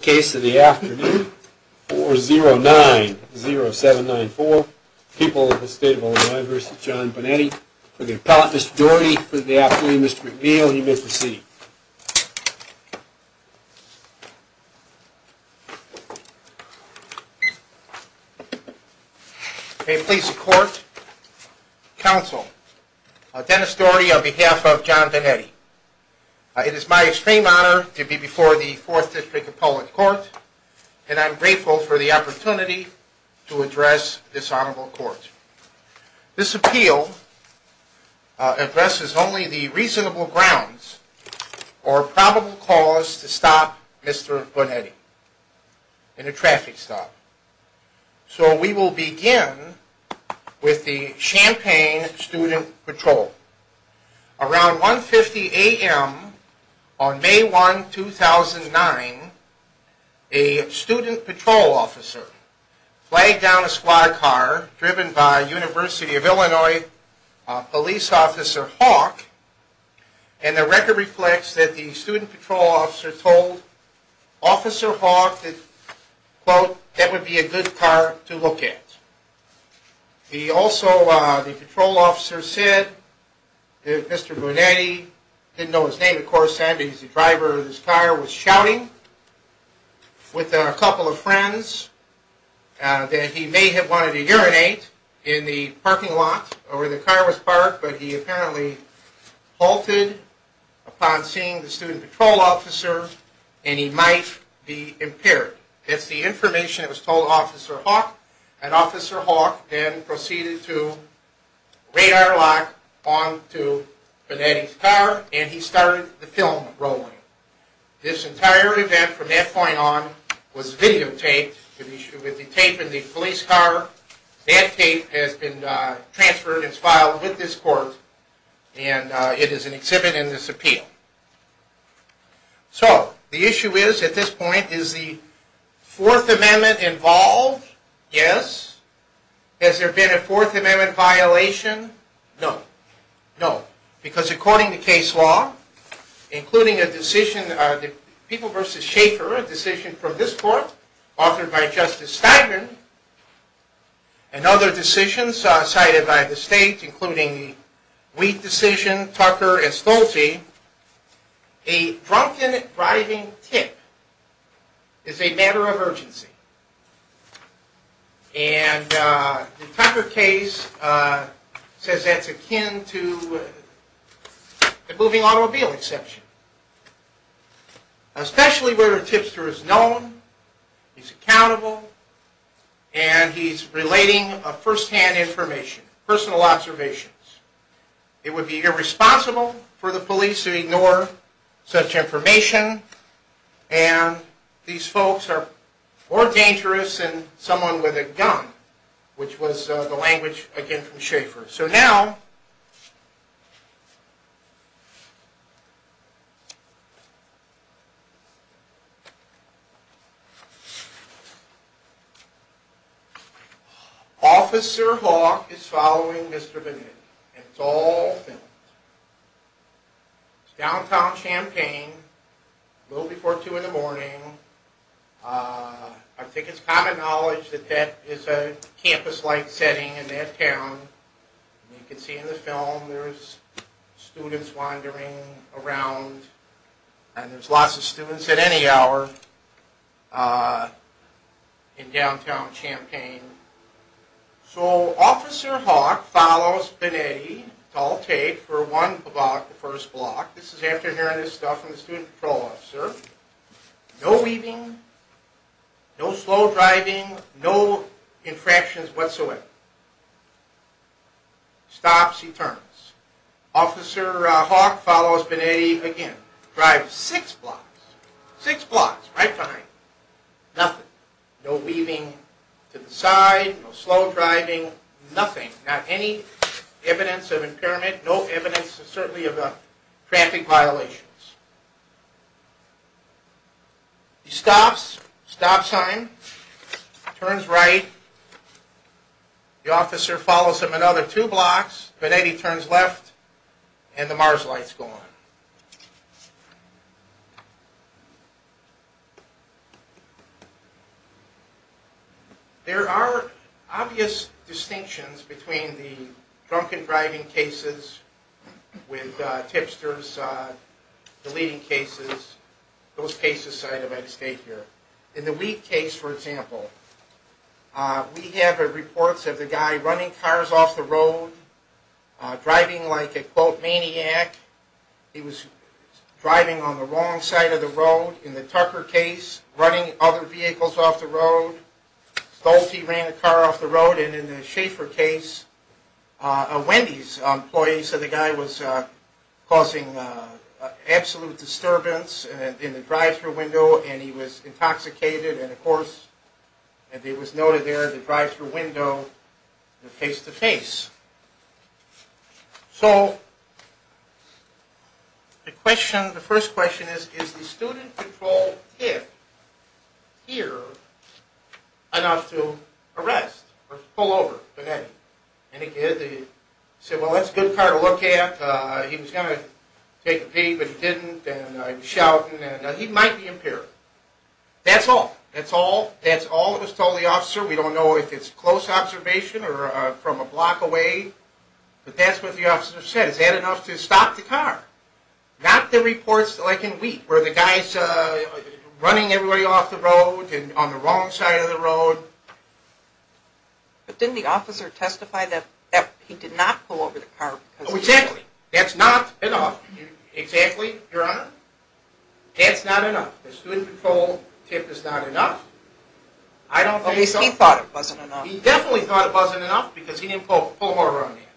case of the afternoon four zero nine zero seven nine four people of the state of Illinois versus John Bonetti for the appellate Mr. Doherty for the afternoon Mr. McNeil you may proceed. May it please the court, counsel, Dennis Doherty on behalf of John Bonetti. It is my extreme honor to be before the fourth district appellate court and I'm grateful for the opportunity to address this honorable court. This appeal addresses only the reasonable grounds or probable cause to stop Mr. Bonetti in a traffic stop. So we will begin with the Champaign student patrol. Around 1 50 a.m on May 1 2009 a student patrol officer flagged down a squad car driven by University of Illinois police officer Hawk and the record reflects that the student patrol officer told officer Hawk that quote that would be a good car to look at. He also the patrol officer said that Mr. Bonetti didn't know his name of course and he's the driver of this car was shouting with a couple of friends that he may have wanted to urinate in the parking lot or the car was impaired. That's the information that was told officer Hawk and officer Hawk then proceeded to radar lock onto Bonetti's car and he started the film rolling. This entire event from that point on was videotaped with the tape in the police car. That tape has been transferred and filed with this court and it is an exhibit in this appeal. So the issue is at this point is the fourth amendment involved? Yes. Has there been a fourth amendment violation? No. No because according to case law including a decision the people versus Schaefer a decision from this court authored by wheat decision Tucker Estolte a drunken driving tip is a matter of urgency and the Tucker case says that's akin to the moving automobile exception. Especially where a tipster is known he's accountable and he's relating a first-hand information personal observations. It would be irresponsible for the police to ignore such information and these folks are more dangerous than someone with a gun which was the language again from Schaefer. So now Officer Hawk is following Mr. Bonetti and it's all filmed. It's downtown Champaign a little before two in the morning. I think it's common knowledge that that is a campus-like setting in that town and you can see in the film there's students wandering around and there's lots of students at any hour in downtown Champaign. So Officer Hawk follows Bonetti it's all taped for one block the first block. This is after hearing this stuff from the student patrol officer. No weaving, no slow driving, no infractions whatsoever. Stops, he turns. Officer Hawk follows Bonetti again. Drives six blocks, six blocks right behind nothing. No weaving to the side, no slow driving, nothing. Not any evidence of impairment, no evidence certainly of traffic violations. He stops, stop sign, turns right. The officer follows him another two blocks. Bonetti turns left and the mars lights go on. There are obvious distinctions between the drunken driving cases with tipsters, deleting cases, those cases I might state here. In the weed case for example, we have reports of the guy running cars off the road, driving like a quote maniac. He was driving on the wrong side of the road. In the Tucker case, running other vehicles off the road. Stolte ran a car off the road and in the Schaefer case, a Wendy's employee. So the guy was causing absolute disturbance in the drive-thru window and he was intoxicated and of course and it was noted there the drive-thru window, the face-to-face. So the question, the first question is, is the student-controlled tip here enough to arrest or pull over Bonetti? And he did. He said, well that's a good car to look at. He was going to take a pee but he didn't and he was shouting and he might be impaired. That's all. That's all. All of us told the officer. We don't know if it's close observation or from a block away but that's what the officer said. Is that enough to stop the car? Not the reports like in weed where the guy's running everybody off the road and on the wrong side of the road. But didn't the officer testify that he did not pull over the car? Oh exactly. That's not enough. Exactly, Your Honor. That's not enough. The student-controlled tip is not enough. At least he thought it wasn't enough. He definitely thought it wasn't enough because he didn't pull over on him.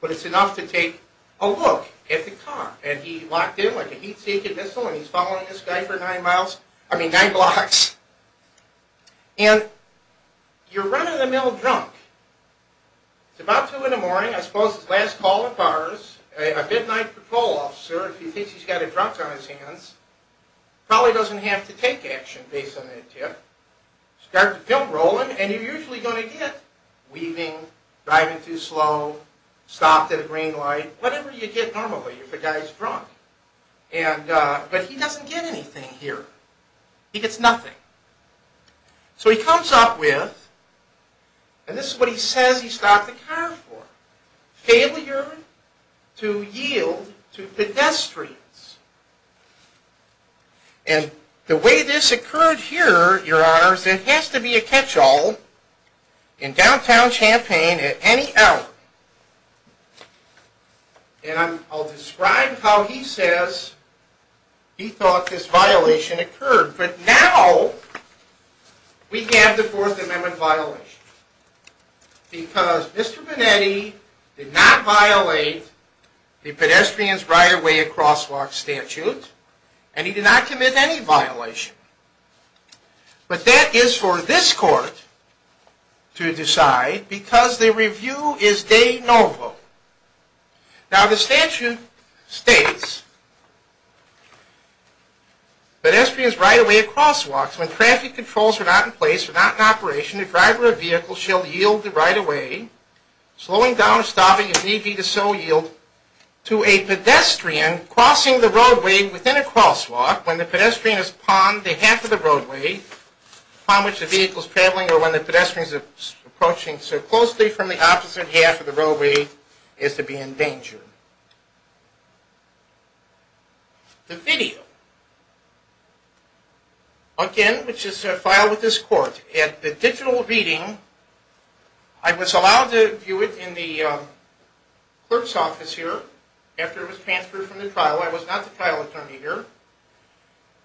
But it's enough to take a look at the car and he locked in like a heat-seeking missile and he's following this guy for nine miles, I mean nine blocks. And you're running the mill drunk. It's about two in the morning. I suppose his last call at bars. A midnight patrol officer, if he thinks he's got a drunk on his hands, probably doesn't have to take action based on that tip. Start the pimp rolling and you're usually going to get weaving, driving too slow, stopped at a green light, whatever you get normally if a guy's drunk. But he doesn't get anything here. He gets nothing. So he comes up with, and this is what he says he stopped the car for, failure to yield to pedestrians. And the way this occurred here, Your Honor, is it has to be a catch-all in downtown Champaign at any hour. And I'll describe how he says he thought this violation occurred. But now we have the Fourth Amendment violation. Because Mr. Bonetti did not violate the Pedestrians Right-of-Way at Crosswalks statute and he did not commit any violation. But that is for this court to decide because the review is de novo. Now the statute states Pedestrians right-of-way at crosswalks, when traffic controls are not in place, are not in operation, the driver of the vehicle shall yield the right-of-way, slowing down or stopping if need be to so yield, to a pedestrian crossing the roadway within a crosswalk when the pedestrian is upon the half of the roadway upon which the vehicle is traveling or when the pedestrian is approaching so closely from the video. Again, which is filed with this court at the digital reading. I was allowed to view it in the clerk's office here after it was transferred from the trial. I was not the trial attorney here.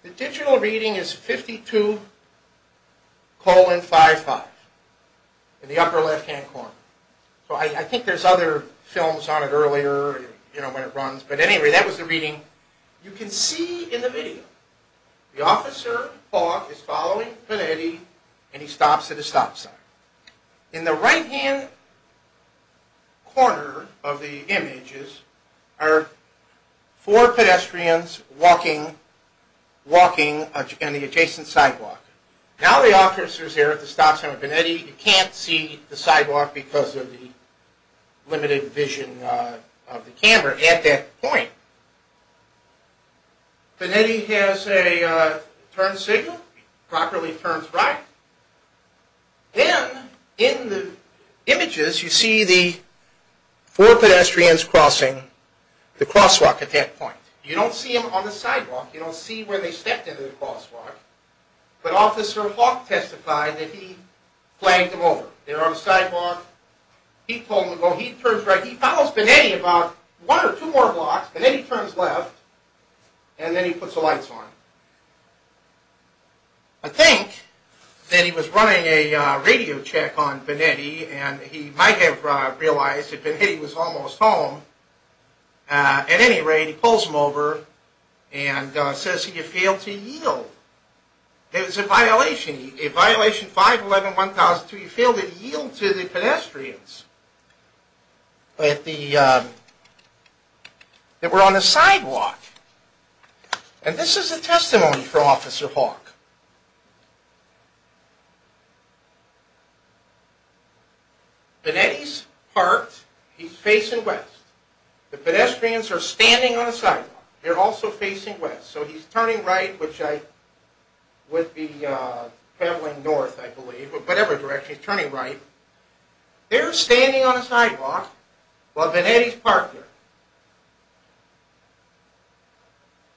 The digital reading is 52 colon 55 in the upper left-hand corner. So I think there's other films on it earlier, you know, when it runs. But anyway, that was the reading. You can see in the video the officer is following Bonetti and he stops at a stop sign. In the right-hand corner of the images are four pedestrians walking, walking on the adjacent sidewalk. Now the officers here at the stop sign of Bonetti, you can't see the sidewalk because of the limited vision of the camera at that point. Bonetti has a turn signal, properly turns right. Then in the images you see the four pedestrians crossing the crosswalk at that point. You don't see them on the sidewalk. You don't see where they stepped into the crosswalk. But officer testified that he flagged them over. They're on the sidewalk. He told them to go. He turns right. He follows Bonetti about one or two more blocks and then he turns left and then he puts the lights on. I think that he was running a radio check on Bonetti and he might have realized that Bonetti was almost home. At any rate, he pulls him over and says he failed to yield. It was a violation, a violation 511-1002. He failed to yield to the pedestrians that were on the sidewalk. And this is a testimony from officer Hawk. Bonetti's parked. He's facing west. The pedestrians are standing on a sidewalk. They're also facing west. So he's turning right, which I would be traveling north, I believe, or whatever direction. He's turning right. They're standing on a sidewalk while Bonetti's parked there.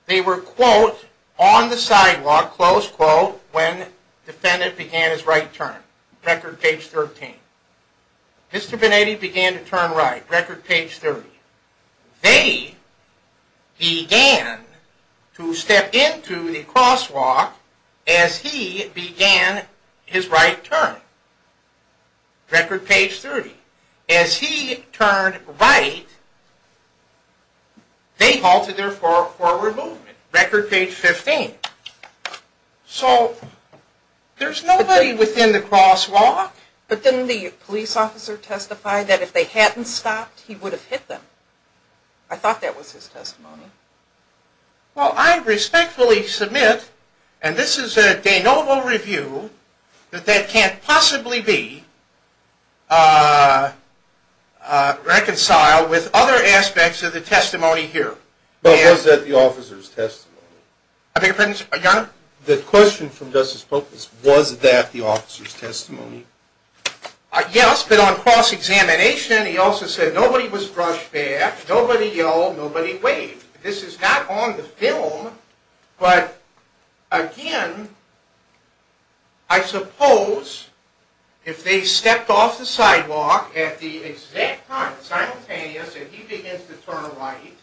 They were, quote, on the sidewalk, close to the crosswalk. When the defendant began his right turn. Record page 13. Mr. Bonetti began to turn right. Record page 30. They began to step into the crosswalk as he began his right turn. Record page 30. As he turned right, they halted their forward movement. Record page 15. So there's nobody within the crosswalk. But didn't the police officer testify that if they hadn't stopped, he would have hit them? I thought that was his testimony. Well, I respectfully submit, and this is a de novo review, that that can't possibly be reconciled with other aspects of the testimony here. But was that the officer's testimony? The question from Justice Polk is, was that the officer's testimony? Yes, but on cross-examination, he also said nobody was brushed back, nobody yelled, nobody waved. This is not on the film, but again, I suppose if they stepped off the sidewalk at the exact time, simultaneous, and he begins to turn right,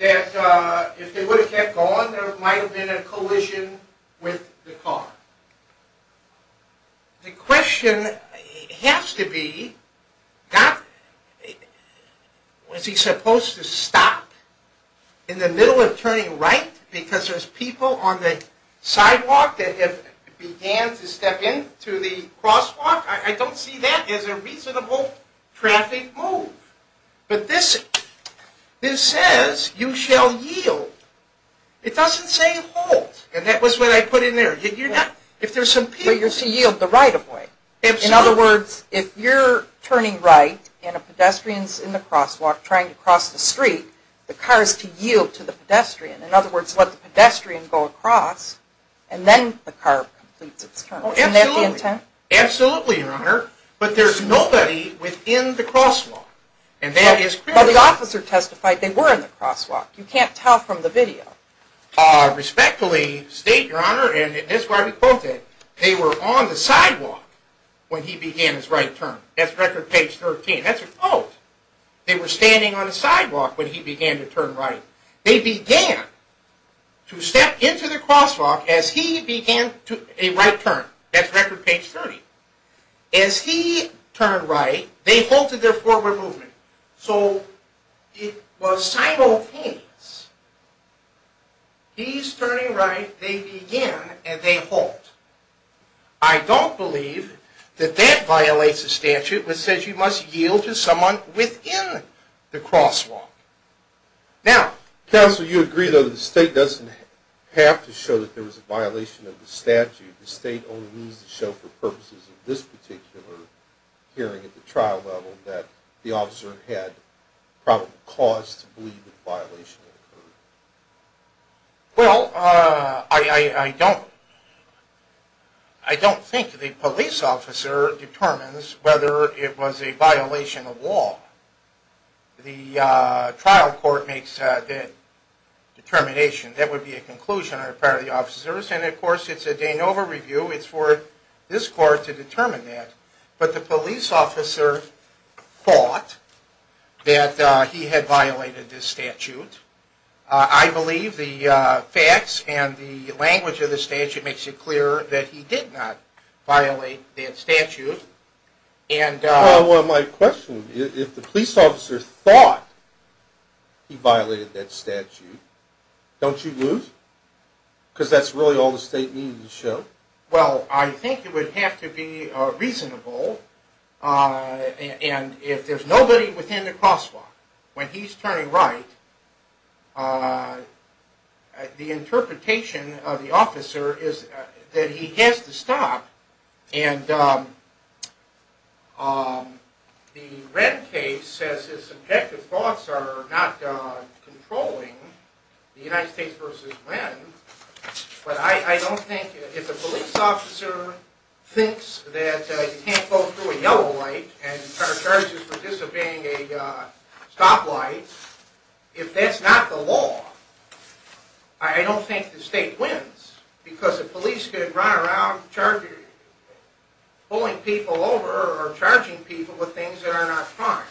that if they would have kept going, there might have been a collision with the car. The question has to be, was he supposed to stop in the middle of turning right because there's people on the sidewalk that have began to step into the crosswalk? I don't see that as a reasonable traffic move. But this says, you shall yield. It doesn't say halt, and that was what I put in there. But you're to yield the right-of-way. In other words, if you're turning right, and a pedestrian's in the crosswalk trying to cross the street, the car is to yield to the pedestrian. In other words, let the pedestrian go across, and then the car completes its turn. Absolutely, Your Honor, but there's nobody within the crosswalk. But the officer testified they were in the crosswalk. You can't tell from the video. Respectfully state, Your Honor, and that's why we quote it, they were on the sidewalk when he began his right turn. That's record page 13. That's a quote. They were standing on a sidewalk when he began to turn right. They began to step into the crosswalk as he began a right turn. That's record page 30. As he turned right, they halted their forward movement. So it was simultaneous. He's turning right, they begin, and they halt. I don't believe that that violates the statute, which says you must yield to someone within the crosswalk. Now, counsel, you agree, though, that the state doesn't have to show that there was a violation of the statute. The state only needs to show for purposes of this particular hearing at the time that the officer had probably cause to believe the violation occurred. Well, I don't think the police officer determines whether it was a violation of law. The trial court makes that determination. That would be a conclusion on the part of the officers, and of course, it's a de novo review. It's for this court to determine that. But the police officer thought that he had violated this statute. I believe the facts and the language of the statute makes it clear that he did not violate that statute. Well, my question is, if the police officer thought he violated that statute, don't you lose? Because that's really all the state needs to show. Well, I think it would have to be reasonable. And if there's nobody within the crosswalk, when he's turning right, the interpretation of the officer is that he has to stop. And the red case says his subjective thoughts are not controlling the United States versus when. But I don't think, if the police officer thinks that you can't go through a yellow light and are charged with disobeying a stoplight, if that's not the law, I don't think the state wins because the police could run around pulling people over or charging people with things that are not crime.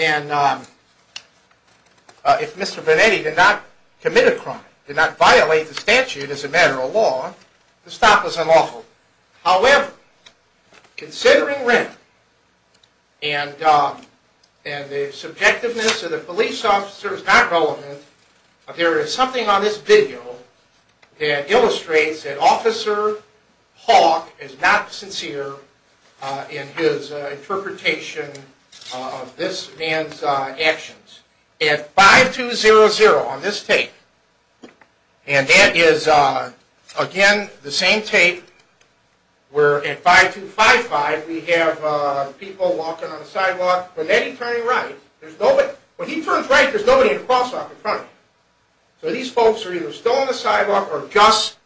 And if Mr. Benetti did not commit a crime, did not violate the statute as a matter of law, the stop is unlawful. However, considering rent and the subjectiveness of the police officer is not relevant, there is something on this video that illustrates that Officer Hawke is not sincere in his interpretation of this man's actions. At 5200 on this tape, and that is again the same tape where at 5255 we have people walking on the sidewalk, Benetti turning right, when he turns right there's nobody in the crosswalk in front of him. So these folks are either still on the sidewalk or just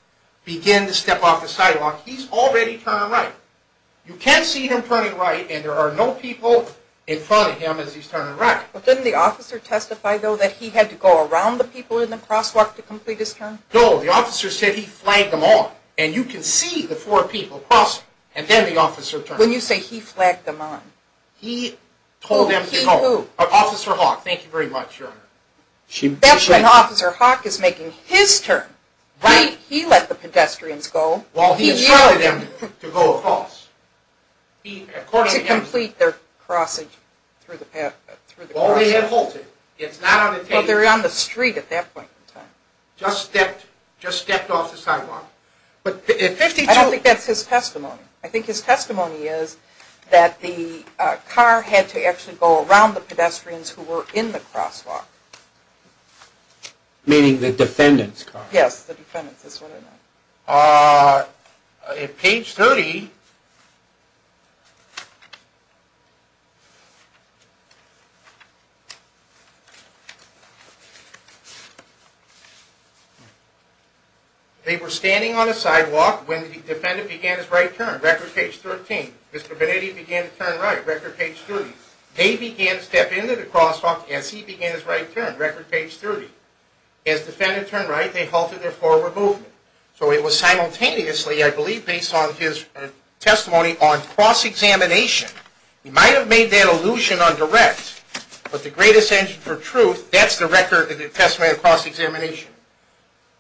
begin to step off the sidewalk. He's already turning right. You can't see him turning right and there are no people in front of him as he's turning right. But didn't the officer testify though that he had to go around the people in the crosswalk to complete his turn? No, the officer said he flagged them on and you can see the four people crossing and then the officer turned. When you say he flagged them on? He told them to go. He who? Officer Hawke, thank you very much. That's when Officer Hawke is making his turn. He let the pedestrians go. Well he instructed them to go across. To complete their crossings. Well they had halted, it's not on the tape. Well they were on the street at that point in time. Just stepped off the sidewalk. I don't think that's his testimony. I think his testimony is that the car had to actually go around the pedestrians who were in the crosswalk. Meaning the defendant's car? Yes, the defendant's is what I meant. On page 30, they were standing on a sidewalk when the defendant began his right turn. Record page 13. Mr. Benetti began to turn right. Record page 30. They began to step into the crosswalk as he began his right turn. Record page 30. As the defendant turned right, they halted their forward movement. So it was simultaneously, I believe, based on his testimony on cross-examination. We might have made that allusion on direct, but the greatest engine for truth, that's the record of the testimony of cross-examination.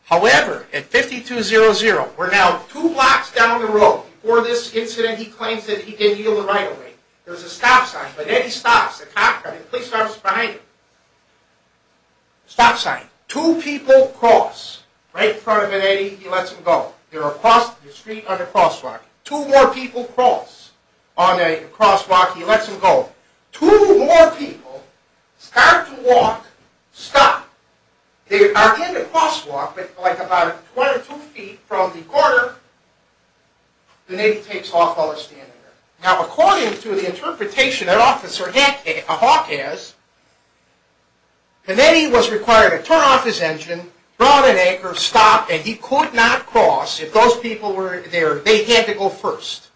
However, at 52-00, we're now two blocks down the road before this incident, he claims that he didn't yield the right-of-way. There's a stop sign. Benetti stops the cop and the police officer is behind him. Stop sign. Two people cross right in front of Benetti. He lets him go. They're across the street on the crosswalk. Two more people cross on a crosswalk. He lets him go. Two more people start to walk, stop. They are in the crosswalk, but like about one or two feet from the corner, Benetti takes off while they're standing there. Now, according to the interpretation that Officer Hawke has, Benetti was required to turn off his engine, draw an anchor, stop, and he could not cross if those people were there. They had to go first.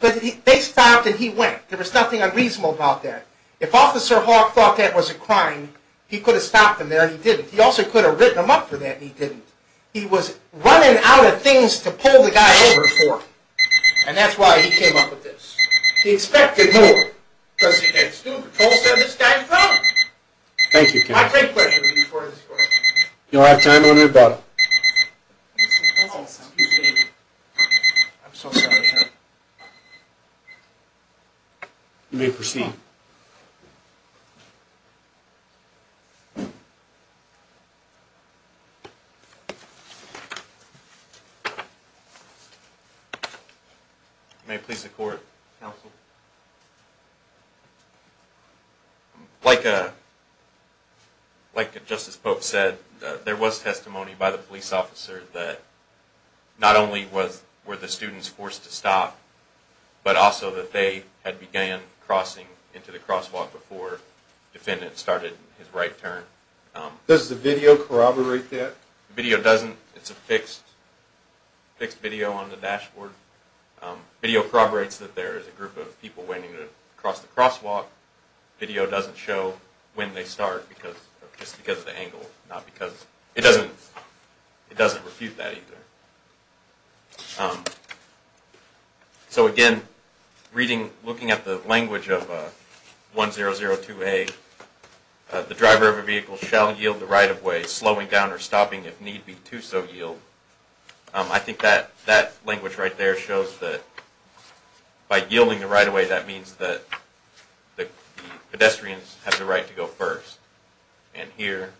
But they stopped and he went. There was nothing unreasonable about that. If Officer Hawke thought that was a crime, he could have stopped him there and he didn't. He also could have written him up for that and he was running out of things to pull the guy over for. And that's why he came up with this. He expected more because he had a student patrol service guy in front of him. My great pleasure to be a part of this story. You'll have time to let me know about it. You may proceed. May it please the Court. Counsel. Like Justice Pope said, there was testimony by the police officer that not only were the students forced to stop, but also that they had began crossing into the crosswalk before the defendant started his right turn. Does the video corroborate that? The video doesn't. It's a fixed video on the dashboard. The video corroborates that there is a group of people waiting to cross the crosswalk. The video doesn't show when they start just because of the angle. It doesn't refute that either. So again, looking at the language of need be to so yield. I think that language right there shows that by yielding the right of way, that means that the pedestrians have the right to go first. And here,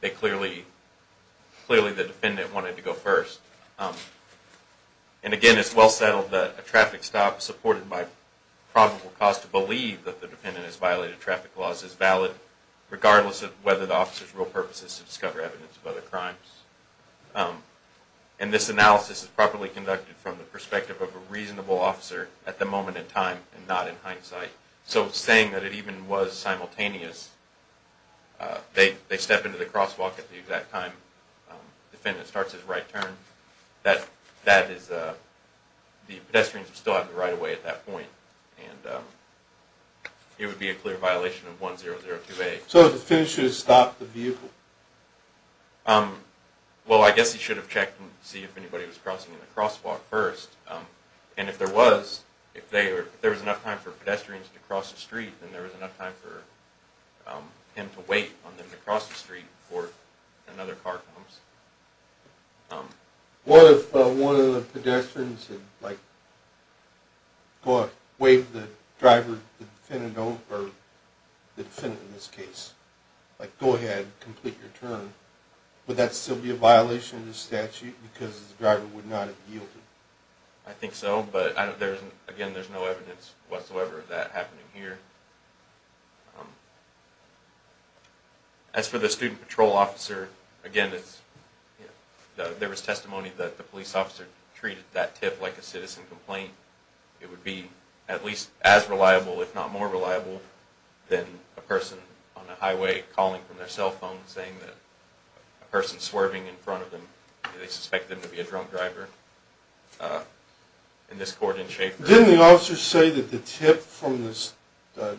they clearly, clearly the defendant wanted to go first. And again, it's well settled that a traffic stop supported by probable cause to believe that the defendant has violated traffic laws is valid, regardless of whether the officer's real purpose is to discover evidence of other crimes. And this analysis is properly conducted from the perspective of a reasonable officer at the moment in time and not in hindsight. So saying that it even was simultaneous, they step into the crosswalk at the exact time the defendant starts his right turn, the pedestrians still have the right of way at that point. And it would be a clear violation of 1002A. So the defendant should have stopped the vehicle? Well, I guess he should have checked and see if anybody was crossing the crosswalk first. And if there was, if there was enough time for pedestrians to cross the street, then there was enough time for him to wait on them to cross the street before another car comes. What if one of the pedestrians had like, waved the driver, the defendant, or the defendant in this case, like, go ahead, complete your turn. Would that still be a violation of the statute because the driver would not have yielded? I think so. But there isn't, again, there's no evidence whatsoever of that happening here. As for the student patrol officer, again, it's, there was testimony that the police officer treated that tip like a citizen complaint. It would be at least as reliable, if not more reliable, than a person on a highway calling from their cell phone saying that a person swerving in front of them, they suspect them to be a drunk driver in this court in Shaffer. Didn't the officer say that the tip from this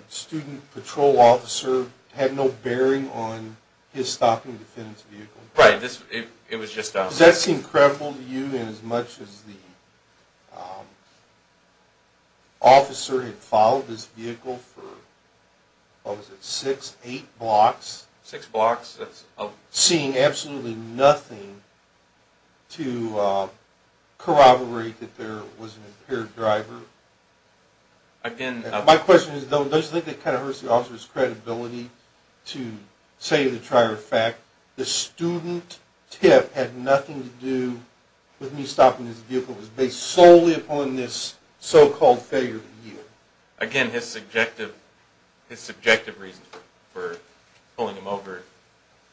student patrol officer had no bearing on his stopping the defendant's vehicle? Right, this, it was just... Does that seem credible to you, in as much as the officer had followed this vehicle for, what was it, six, eight blocks? Six blocks, that's... Seeing absolutely nothing to corroborate that there was an impaired driver? Again... My question is, though, don't you think that kind of hurts the with me stopping his vehicle was based solely upon this so-called failure to yield? Again, his subjective, his subjective reasons for pulling him over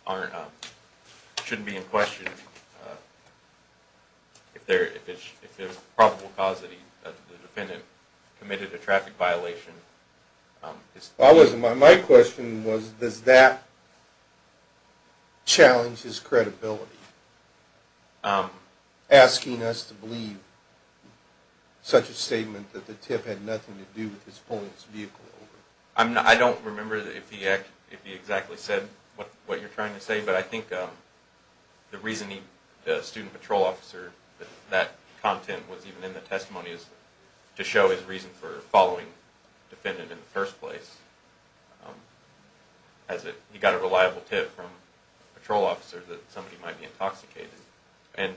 aren't, shouldn't be in question. If there, if it's, if there's a probable cause that he, that the defendant committed a traffic violation, it's... I wasn't, my question was, does that challenge his credibility, asking us to believe such a statement that the tip had nothing to do with his pulling his vehicle over? I'm not, I don't remember if he, if he exactly said what, what you're trying to say, but I think the reason he, the student patrol officer, that content was even in the testimony is to show his reason for following defendant in the first place, as it, he got a reliable tip from patrol officer that somebody might be intoxicated. And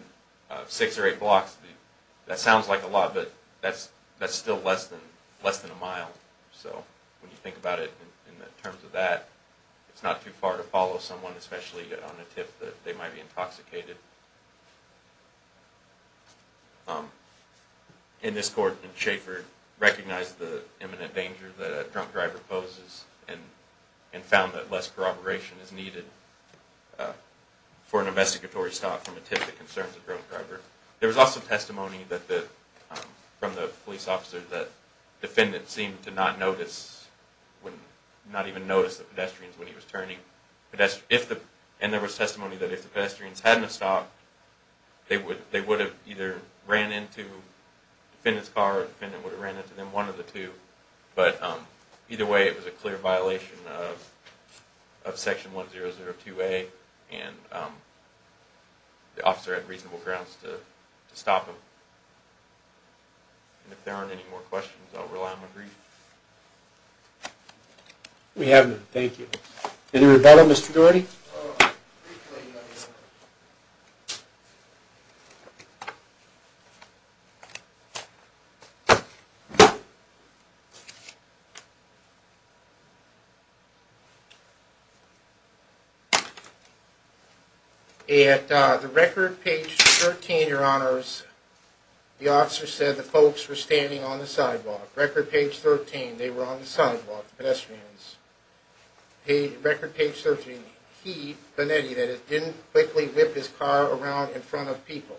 six or eight blocks, that sounds like a lot, but that's, that's still less than, less than a mile. So when you think about it in the terms of that, it's not too far to follow someone, especially on a tip that they might be intoxicated. In this court, Schaffer recognized the imminent danger that a drunk driver poses and, and found that less corroboration is needed for an investigatory stop from a tip that concerns a drunk driver. There was also testimony that the, from the police officer, that defendant seemed to not notice when, not even notice the pedestrians when he was turning, but that's, if the, and there was testimony that if the pedestrians hadn't stopped, they would, they would have either ran into defendant's car or defendant would have ran into them, one of the two. But either way, it was a clear violation of, of section 1002A and the officer had reasonable grounds to stop him. And if there aren't any more questions, I'll rely on my brief. We have none, thank you. Any rebuttal, Mr. Dougherty? At the record page 13, your honors, the officer said the folks were standing on the sidewalk. Record page 13, they were on the sidewalk, pedestrians. Record page 13, he, Benetti, that he didn't quickly whip his car around in front of people.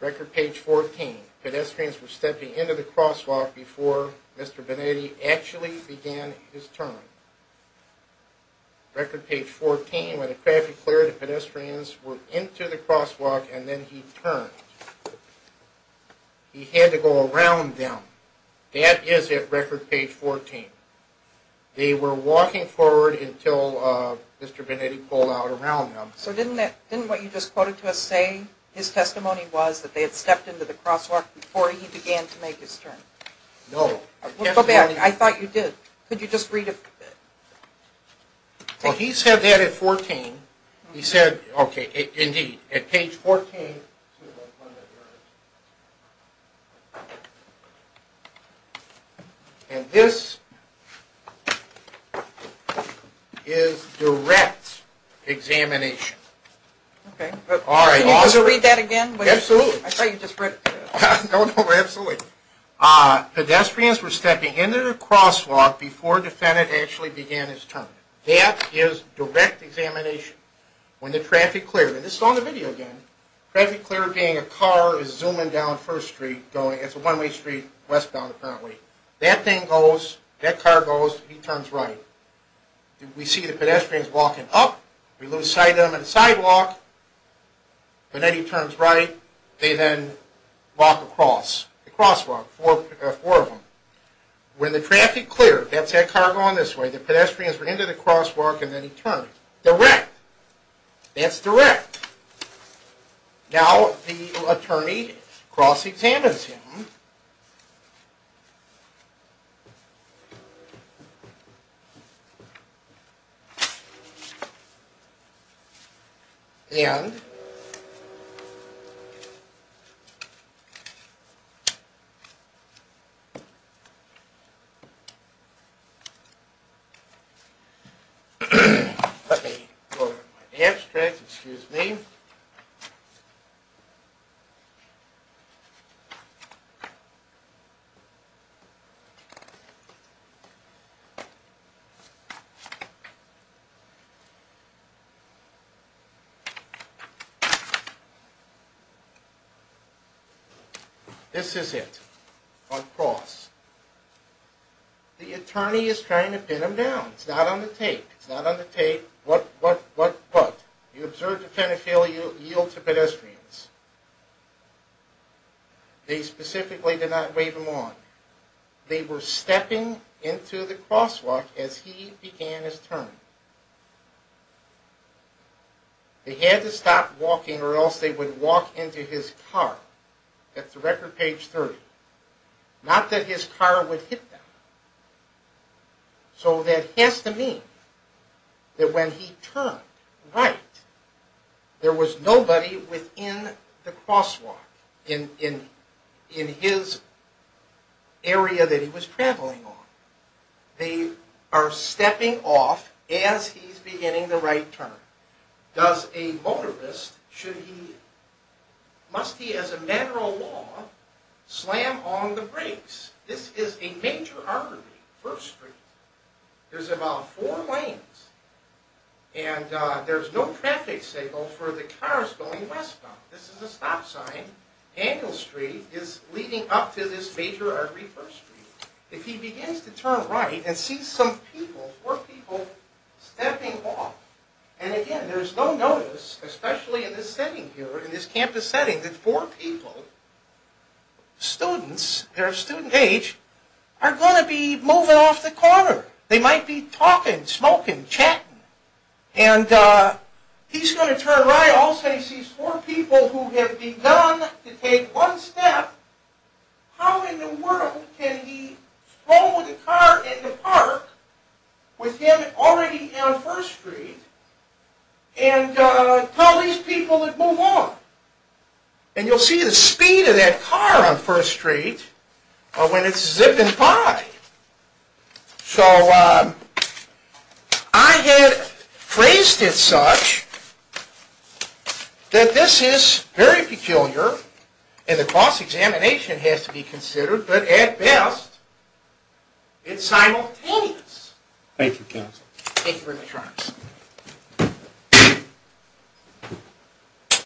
Record page 14, pedestrians were stepping into the crosswalk before Mr. Benetti actually began his turn. Record page 14, when the traffic cleared, the pedestrians were into the crosswalk and then he turned. He had to go around them. That is at record page 14. They were walking forward until Mr. Benetti pulled out around them. So didn't that, didn't what you just quoted to us say, his testimony was that they had stepped into the crosswalk before he began to make his turn? No. I thought you did. Could you just read it? Well, he said that at 14. He said, okay, indeed, at page 14. And this is direct examination. Okay. All right. Can you read that again? Absolutely. I thought you just read it. No, no, absolutely. Pedestrians were stepping into the crosswalk before the defendant actually began his turn. That is direct examination. When the traffic cleared, and this is on the video again, traffic cleared being a car is zooming down First Street going, it's a one-way street, westbound apparently. That thing goes, that car goes, he turns right. We see the pedestrians walking up. We lose sight of them on the sidewalk. Benetti turns right. They then walk across the crosswalk, four of them. When the traffic cleared, that's that car going this way, the pedestrians were into the crosswalk and then he turned. Direct. That's direct. Now the attorney cross-examines him. And let me go to my abstract, excuse me. So this is it. On cross. The attorney is trying to pin him down. It's not on the tape. It's not on the tape. What, what, what, what? You observe the kind of failure you yield to pedestrians. They specifically did not wave him on. They were stepping into the crosswalk as he began his turn. They had to stop walking or else they would walk into his car. That's the record, page 30. Not that his car would hit them. So that has to mean that when he turned right, there was nobody within the crosswalk, in his area that he was traveling on. They are stepping off as he's beginning the right turn. Does a motorist, should he, must he as a matter of law, slam on the brakes? This is a major artery, First Street. There's about four lanes and there's no traffic signal for the cars going westbound. This is a stop sign. Daniel Street is leading up to this major artery, First Street. If he begins to turn right and sees some people, four people, stepping off, and again, there's no notice, especially in this setting here, in this campus setting, that four people, students, their student age, are going to be moving off the corner. They might be talking, smoking, chatting, and he's going to turn right. All of a sudden he sees four people who have begun to take one step. How in the world can he throw the car in the park with him already on First Street and tell these people to move on? And you'll see the speed of that car on First and Five. So, I had phrased it such that this is very peculiar and the cross-examination has to be considered, but at best, it's simultaneous. Thank you, counsel. Thank you very much, Your Honor.